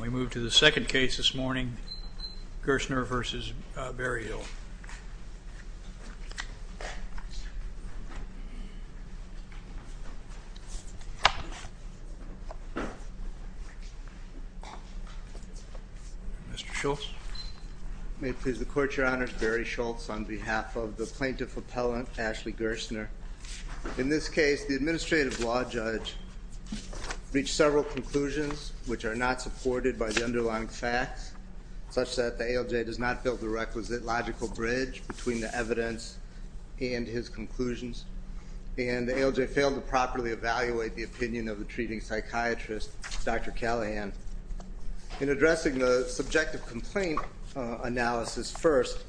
We move to the second case this morning, Gerstner v. Berryhill. Mr. Schultz. May it please the Court, Your Honor. Barry Schultz on behalf of the plaintiff appellant, Ashley Gerstner. In this case, the administrative law judge reached several conclusions which are not supported by the underlying facts, such that the ALJ does not build a requisite logical bridge between the evidence and his conclusions, and the ALJ failed to properly evaluate the opinion of the treating psychiatrist, Dr. Callahan. In addressing the subjective complaint analysis first,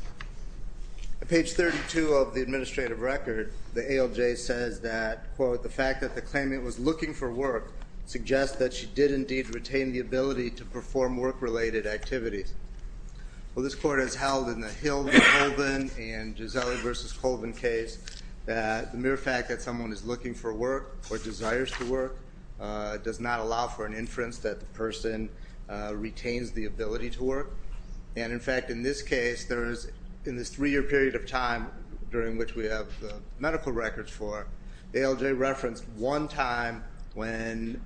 on page 32 of the administrative record, the ALJ says that, quote, the fact that the claimant was looking for work suggests that she did indeed retain the ability to perform work-related activities. Well, this Court has held in the Hill v. Colvin and Gisele v. Colvin case that the mere fact that someone is looking for work or desires to work does not allow for an inference that the person retains the ability to work. And, in fact, in this case, in this three-year period of time during which we have the medical records for, the ALJ referenced one time when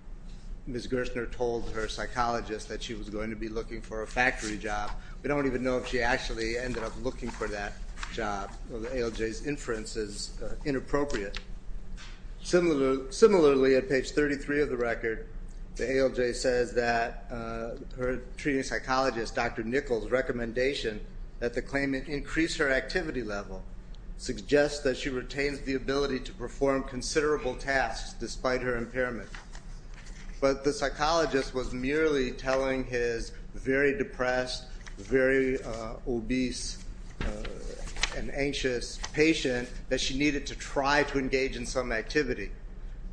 Ms. Gerstner told her psychologist that she was going to be looking for a factory job. We don't even know if she actually ended up looking for that job. The ALJ's inference is inappropriate. Similarly, on page 33 of the record, the ALJ says that her treating psychologist, Dr. Nichols' recommendation that the claimant increase her activity level suggests that she retains the ability to perform considerable tasks despite her impairment. But the psychologist was merely telling his very depressed, very obese, and anxious patient that she needed to try to engage in some activity.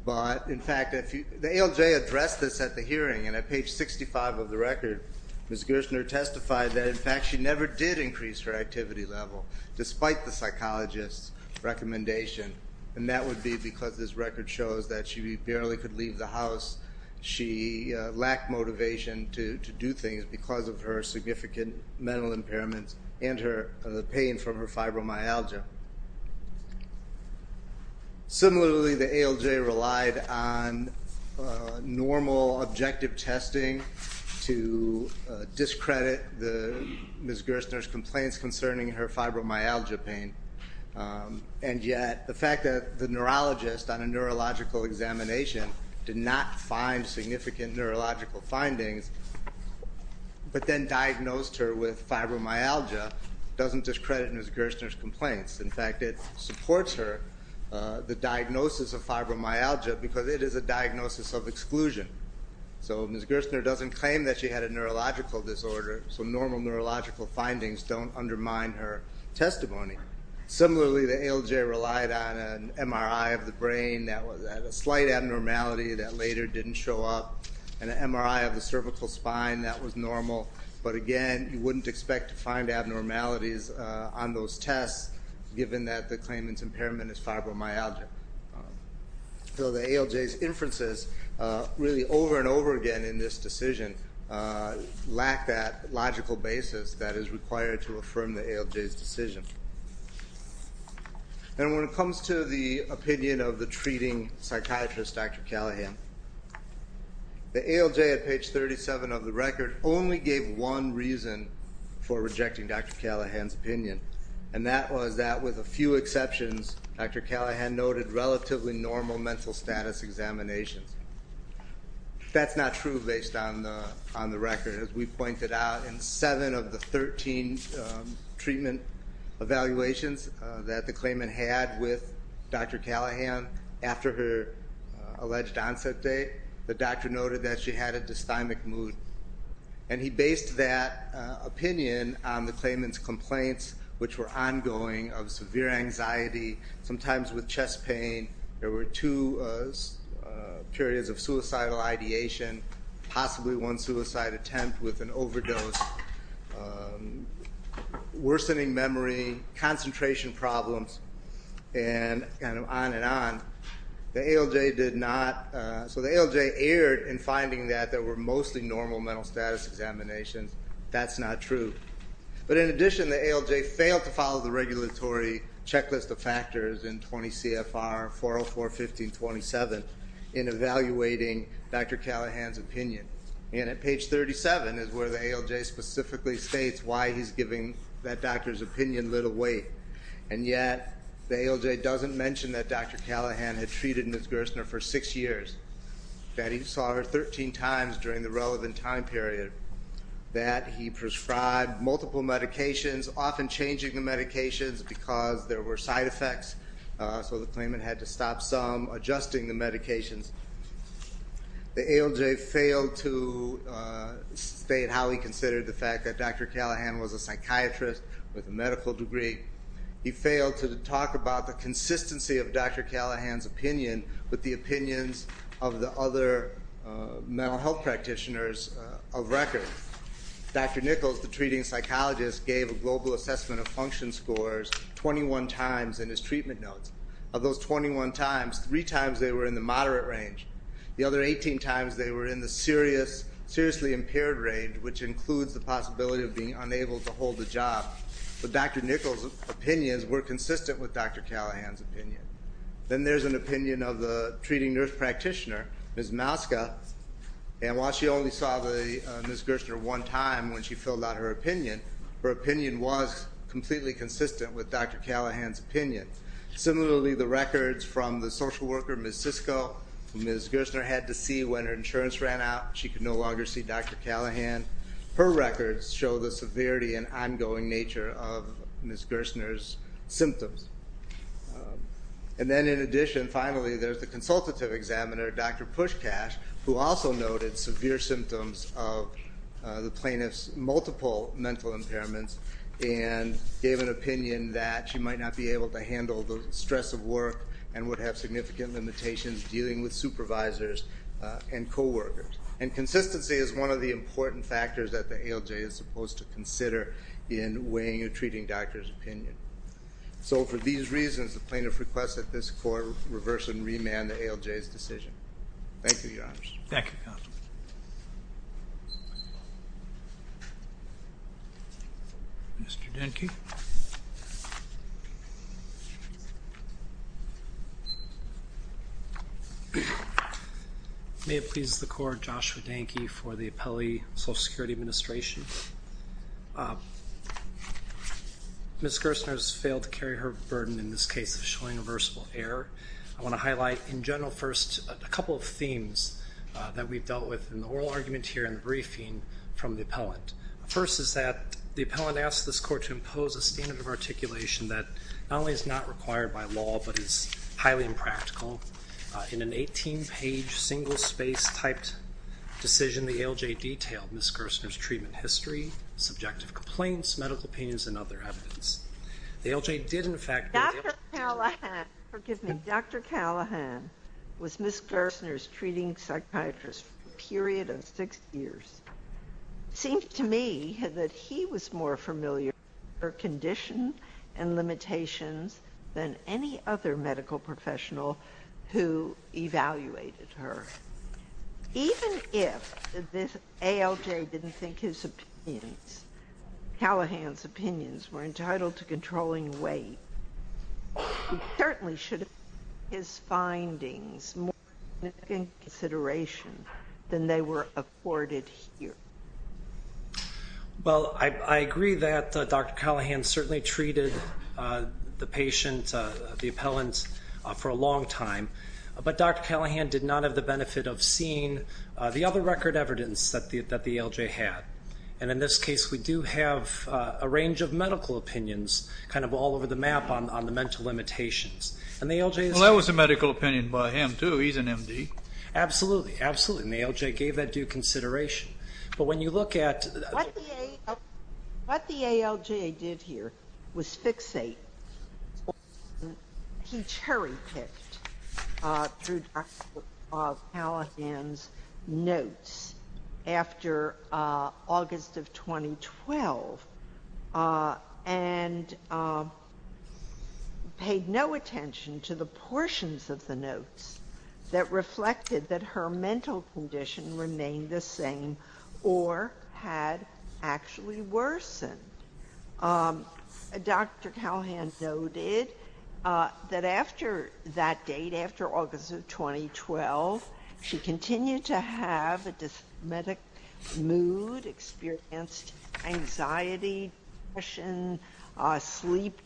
But, in fact, the ALJ addressed this at the hearing, and at page 65 of the record, Ms. Gerstner testified that, in fact, she never did increase her activity level despite the psychologist's recommendation. And that would be because this record shows that she barely could leave the house. She lacked motivation to do things because of her significant mental impairments and the pain from her fibromyalgia. Similarly, the ALJ relied on normal, objective testing to discredit Ms. Gerstner's complaints concerning her fibromyalgia pain. And yet, the fact that the neurologist on a neurological examination did not find significant neurological findings, but then diagnosed her with fibromyalgia, doesn't discredit Ms. Gerstner's complaints. In fact, it supports her, the diagnosis of fibromyalgia, because it is a diagnosis of exclusion. So Ms. Gerstner doesn't claim that she had a neurological disorder, so normal neurological findings don't undermine her testimony. Similarly, the ALJ relied on an MRI of the brain that had a slight abnormality that later didn't show up, and an MRI of the cervical spine that was normal. But again, you wouldn't expect to find abnormalities on those tests, given that the claimant's impairment is fibromyalgia. So the ALJ's inferences, really over and over again in this decision, lack that logical basis that is required to affirm the ALJ's decision. And when it comes to the opinion of the treating psychiatrist, Dr. Callahan, the ALJ at page 37 of the record only gave one reason for rejecting Dr. Callahan's opinion, and that was that, with a few exceptions, Dr. Callahan noted relatively normal mental status examinations. That's not true based on the record. As we pointed out, in seven of the 13 treatment evaluations that the claimant had with Dr. Callahan, after her alleged onset date, the doctor noted that she had a dysthymic mood. And he based that opinion on the claimant's complaints, which were ongoing, of severe anxiety, sometimes with chest pain, there were two periods of suicidal ideation, possibly one suicide attempt with an overdose, worsening memory, concentration problems, and on and on. The ALJ did not, so the ALJ erred in finding that there were mostly normal mental status examinations. That's not true. But in addition, the ALJ failed to follow the regulatory checklist of factors in 20 CFR 404.15.27 in evaluating Dr. Callahan's opinion. And at page 37 is where the ALJ specifically states why he's giving that doctor's opinion little weight. And yet, the ALJ doesn't mention that Dr. Callahan had treated Ms. Gerstner for six years, that he saw her 13 times during the relevant time period, that he prescribed multiple medications, often changing the medications because there were side effects, so the claimant had to stop some, adjusting the medications. The ALJ failed to state how he considered the fact that Dr. Callahan was a psychiatrist with a medical degree. He failed to talk about the consistency of Dr. Callahan's opinion with the opinions of the other mental health practitioners of record. Dr. Nichols, the treating psychologist, gave a global assessment of function scores 21 times in his treatment notes. Of those 21 times, three times they were in the moderate range. The other 18 times they were in the seriously impaired range, which includes the possibility of being unable to hold a job. But Dr. Nichols' opinions were consistent with Dr. Callahan's opinion. Then there's an opinion of the treating nurse practitioner, Ms. Mouska, and while she only saw Ms. Gerstner one time when she filled out her opinion, her opinion was completely consistent with Dr. Callahan's opinion. Similarly, the records from the social worker, Ms. Sisko, who Ms. Gerstner had to see when her insurance ran out, she could no longer see Dr. Callahan. Her records show the severity and ongoing nature of Ms. Gerstner's symptoms. And then in addition, finally, there's the consultative examiner, Dr. Pushkash, who also noted severe symptoms of the plaintiff's multiple mental impairments and gave an opinion that she might not be able to handle the stress of work and would have significant limitations dealing with supervisors and coworkers. And consistency is one of the important factors that the ALJ is supposed to consider in weighing a treating doctor's opinion. So for these reasons, the plaintiff requests that this court reverse and remand the ALJ's decision. Thank you, Your Honors. Thank you, Your Honor. Mr. Denke. May it please the Court, Joshua Denke for the Appellee Social Security Administration. Ms. Gerstner has failed to carry her burden in this case of showing reversible error. I want to highlight in general first a couple of themes that we've dealt with in the oral argument here in the briefing from the appellant. First is that the appellant asked this court to impose a standard of articulation that not only is not required by law but is highly impractical. In an 18-page, single-space-type decision, the ALJ detailed Ms. Gerstner's treatment history, subjective complaints, medical opinions, and other evidence. The ALJ did, in fact... Dr. Callahan, forgive me, Dr. Callahan was Ms. Gerstner's treating psychiatrist for a period of six years. It seemed to me that he was more familiar with her condition and limitations than any other medical professional who evaluated her. Even if this ALJ didn't think his opinions, Callahan's opinions, were entitled to controlling weight, he certainly should have given his findings more significant consideration than they were afforded here. Well, I agree that Dr. Callahan certainly treated the patient, the appellant, for a long time. But Dr. Callahan did not have the benefit of seeing the other record evidence that the ALJ had. And in this case, we do have a range of medical opinions kind of all over the map on the mental limitations. And the ALJ's... Well, that was a medical opinion by him, too. He's an M.D. Absolutely, absolutely. And the ALJ gave that due consideration. But when you look at... What the ALJ did here was fixate. He cherry-picked through Dr. Callahan's notes after August of 2012 and paid no attention to the portions of the notes that reflected that her mental condition remained the same or had actually worsened. Dr. Callahan noted that after that date, after August of 2012, she continued to have a dysmetic mood, experienced anxiety, depression, sleep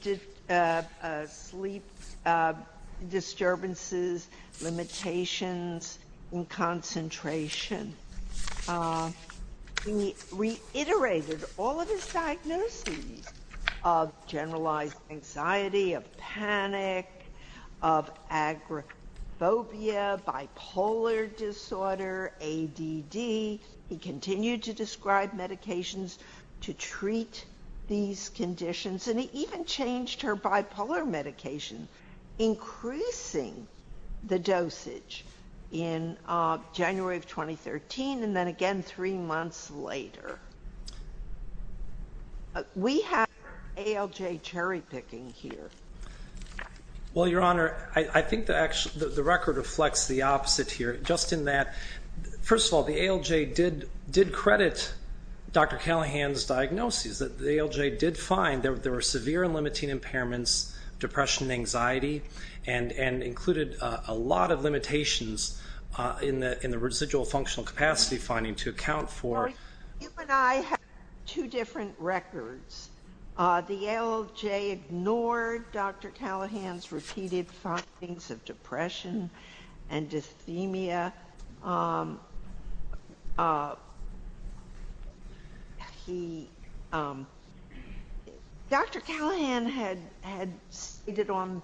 disturbances, limitations in concentration. He reiterated all of his diagnoses of generalized anxiety, of panic, of agoraphobia, bipolar disorder, ADD. He continued to describe medications to treat these conditions. And he even changed her bipolar medication, increasing the dosage in January of 2013 and then again three months later. We have ALJ cherry-picking here. Well, Your Honor, I think the record reflects the opposite here, just in that, first of all, the ALJ did credit Dr. Callahan's diagnoses. The ALJ did find there were severe and limiting impairments, depression, anxiety, and included a lot of limitations in the residual functional capacity finding to account for... You and I have two different records. The ALJ ignored Dr. Callahan's repeated findings of depression and dysthemia. Dr. Callahan had stated on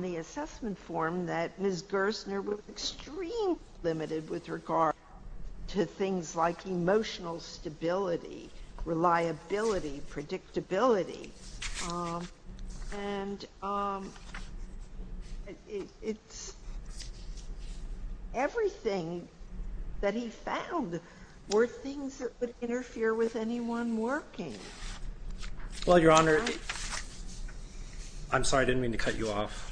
the assessment form that Ms. Gerstner was extremely limited with regard to things like emotional stability, reliability, predictability. And everything that he found were things that would interfere with anyone working. Well, Your Honor, I'm sorry, I didn't mean to cut you off.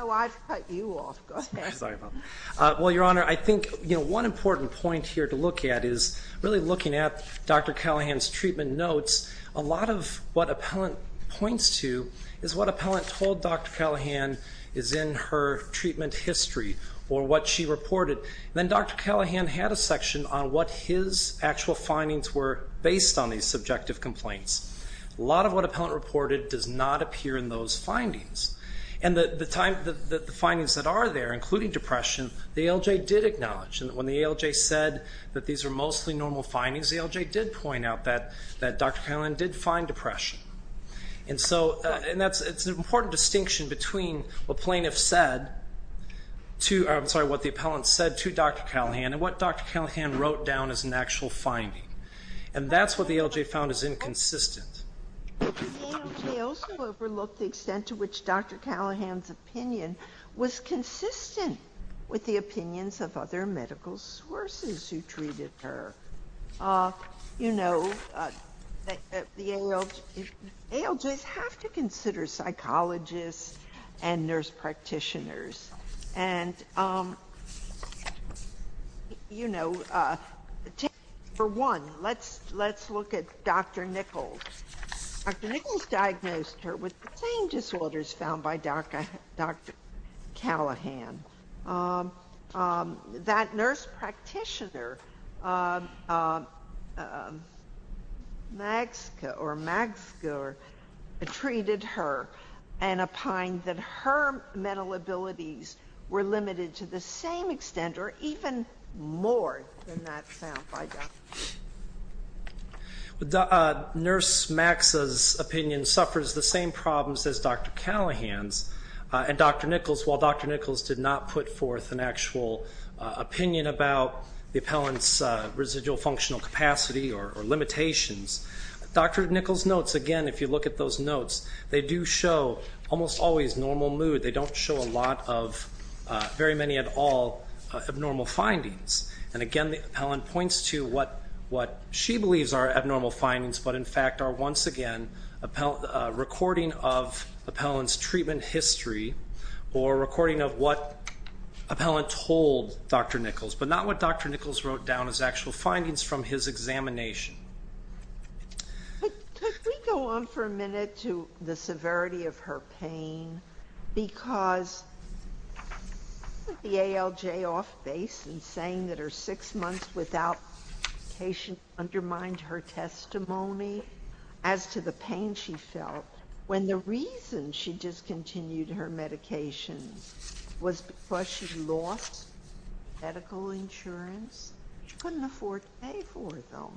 Oh, I've cut you off. Go ahead. Sorry about that. Well, Your Honor, I think one important point here to look at is really looking at Dr. Callahan's treatment notes, a lot of what appellant points to is what appellant told Dr. Callahan is in her treatment history or what she reported. Then Dr. Callahan had a section on what his actual findings were based on these subjective complaints. A lot of what appellant reported does not appear in those findings. And the findings that are there, including depression, the ALJ did acknowledge. And when the ALJ said that these were mostly normal findings, the ALJ did point out that Dr. Callahan did find depression. And so it's an important distinction between what the appellant said to Dr. Callahan and what Dr. Callahan wrote down as an actual finding. And that's what the ALJ found as inconsistent. The ALJ also overlooked the extent to which Dr. Callahan's opinion was consistent with the opinions of other medical sources who treated her. You know, the ALJs have to consider psychologists and nurse practitioners. And, you know, for one, let's look at Dr. Nichols. Dr. Nichols diagnosed her with the same disorders found by Dr. Callahan. That nurse practitioner, Magske, or Magsger, treated her and opined that her mental abilities were limited to the same extent or even more than that found by Dr. Nichols. Nurse Magske's opinion suffers the same problems as Dr. Callahan's. And Dr. Nichols, while Dr. Nichols did not put forth an actual opinion about the appellant's residual functional capacity or limitations, Dr. Nichols' notes, again, if you look at those notes, they do show almost always normal mood. They don't show a lot of, very many at all, abnormal findings. And, again, the appellant points to what she believes are abnormal findings, but, in fact, are once again a recording of appellant's treatment history or a recording of what appellant told Dr. Nichols, but not what Dr. Nichols wrote down as actual findings from his examination. Could we go on for a minute to the severity of her pain? Because the ALJ off base in saying that her six months without medication undermined her testimony as to the pain she felt when the reason she discontinued her medication was because she lost medical insurance? She couldn't afford to pay for it, though.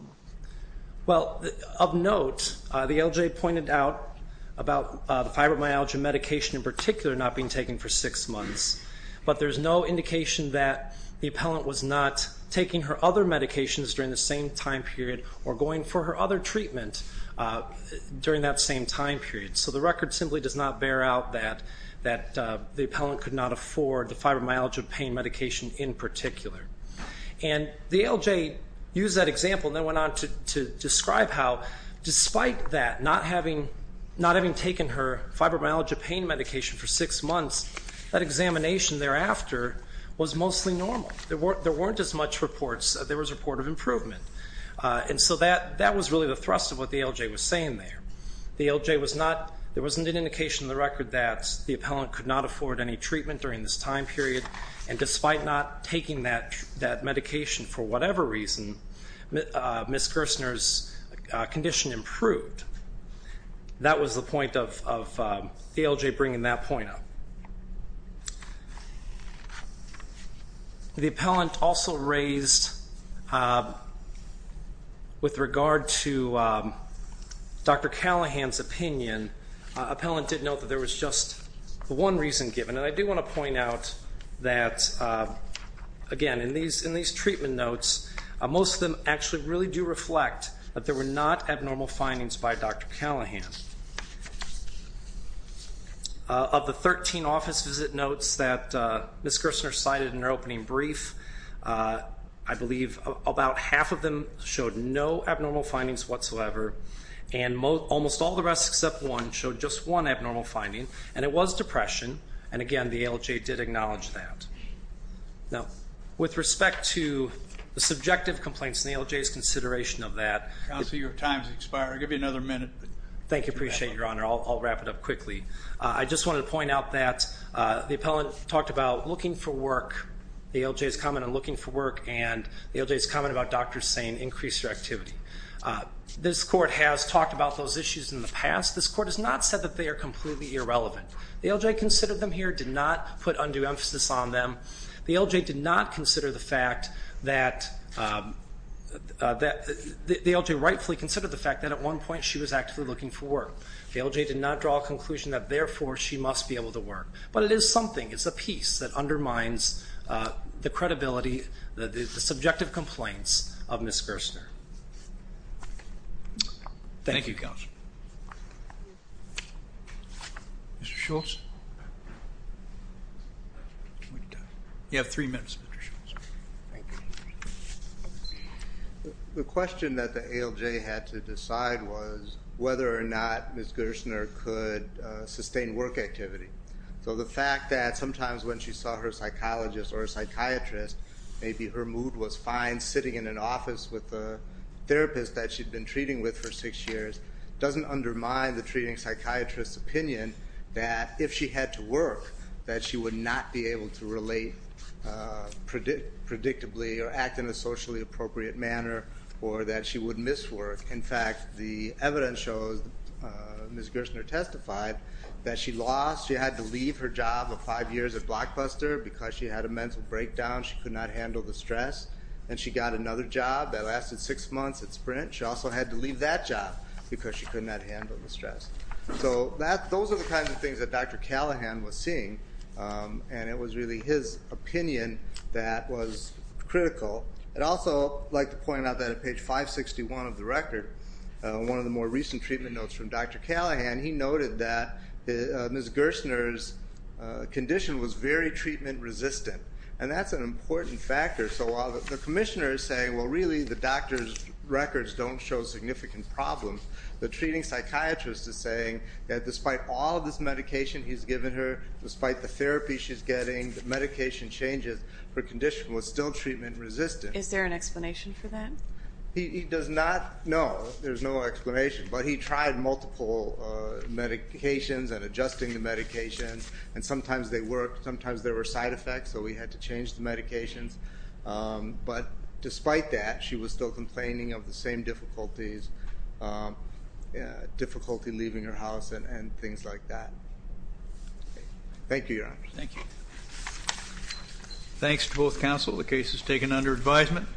Well, of note, the ALJ pointed out about the fibromyalgia medication in particular not being taken for six months, but there's no indication that the appellant was not taking her other medications during the same time period or going for her other treatment during that same time period. So the record simply does not bear out that the appellant could not afford the fibromyalgia pain medication in particular. And the ALJ used that example and then went on to describe how, despite that, not having taken her fibromyalgia pain medication for six months, that examination thereafter was mostly normal. There weren't as much reports. There was a report of improvement. And so that was really the thrust of what the ALJ was saying there. The ALJ was not, there wasn't an indication in the record that the appellant could not afford any treatment during this time period, and despite not taking that medication for whatever reason, Ms. Gerstner's condition improved. That was the point of the ALJ bringing that point up. The appellant also raised, with regard to Dr. Callahan's opinion, the appellant did note that there was just one reason given, and I do want to point out that, again, in these treatment notes, most of them actually really do reflect that there were not abnormal findings by Dr. Callahan. Of the 13 office visit notes that Ms. Gerstner cited in her opening brief, I believe about half of them showed no abnormal findings whatsoever, and almost all the rest except one showed just one abnormal finding, and it was depression. And, again, the ALJ did acknowledge that. Now, with respect to the subjective complaints and the ALJ's consideration of that. Counsel, your time has expired. I'll give you another minute. Thank you. I appreciate it, Your Honor. I'll wrap it up quickly. I just wanted to point out that the appellant talked about looking for work, the ALJ's comment on looking for work, and the ALJ's comment about doctors saying increase your activity. This Court has talked about those issues in the past. This Court has not said that they are completely irrelevant. The ALJ considered them here, did not put undue emphasis on them. The ALJ did not consider the fact that the ALJ rightfully considered the fact that, at one point, she was actively looking for work. The ALJ did not draw a conclusion that, therefore, she must be able to work. But it is something. It's a piece that undermines the credibility, the subjective complaints of Ms. Gerstner. Thank you, Counsel. Mr. Schultz? You have three minutes, Mr. Schultz. Thank you. The question that the ALJ had to decide was whether or not Ms. Gerstner could sustain work activity. So the fact that sometimes when she saw her psychologist or psychiatrist, maybe her mood was fine sitting in an office with a therapist that she'd been treating with for six years, doesn't undermine the treating psychiatrist's opinion that if she had to work, that she would not be able to relate predictably or act in a socially appropriate manner or that she would miss work. In fact, the evidence shows, as Ms. Gerstner testified, that she lost. She had to leave her job of five years at Blockbuster because she had a mental breakdown. She could not handle the stress. And she got another job that lasted six months at Sprint. She also had to leave that job because she could not handle the stress. So those are the kinds of things that Dr. Callahan was seeing, and it was really his opinion that was critical. I'd also like to point out that at page 561 of the record, one of the more recent treatment notes from Dr. Callahan, he noted that Ms. Gerstner's condition was very treatment-resistant, and that's an important factor. So while the commissioner is saying, well, really the doctor's records don't show significant problems, the treating psychiatrist is saying that despite all of this medication he's given her, despite the therapy she's getting, the medication changes, her condition was still treatment-resistant. Is there an explanation for that? He does not know. There's no explanation. But he tried multiple medications and adjusting the medications, and sometimes they worked. But despite that, she was still complaining of the same difficulties, difficulty leaving her house and things like that. Thank you, Your Honor. Thank you. Thanks to both counsel. The case is taken under advisement.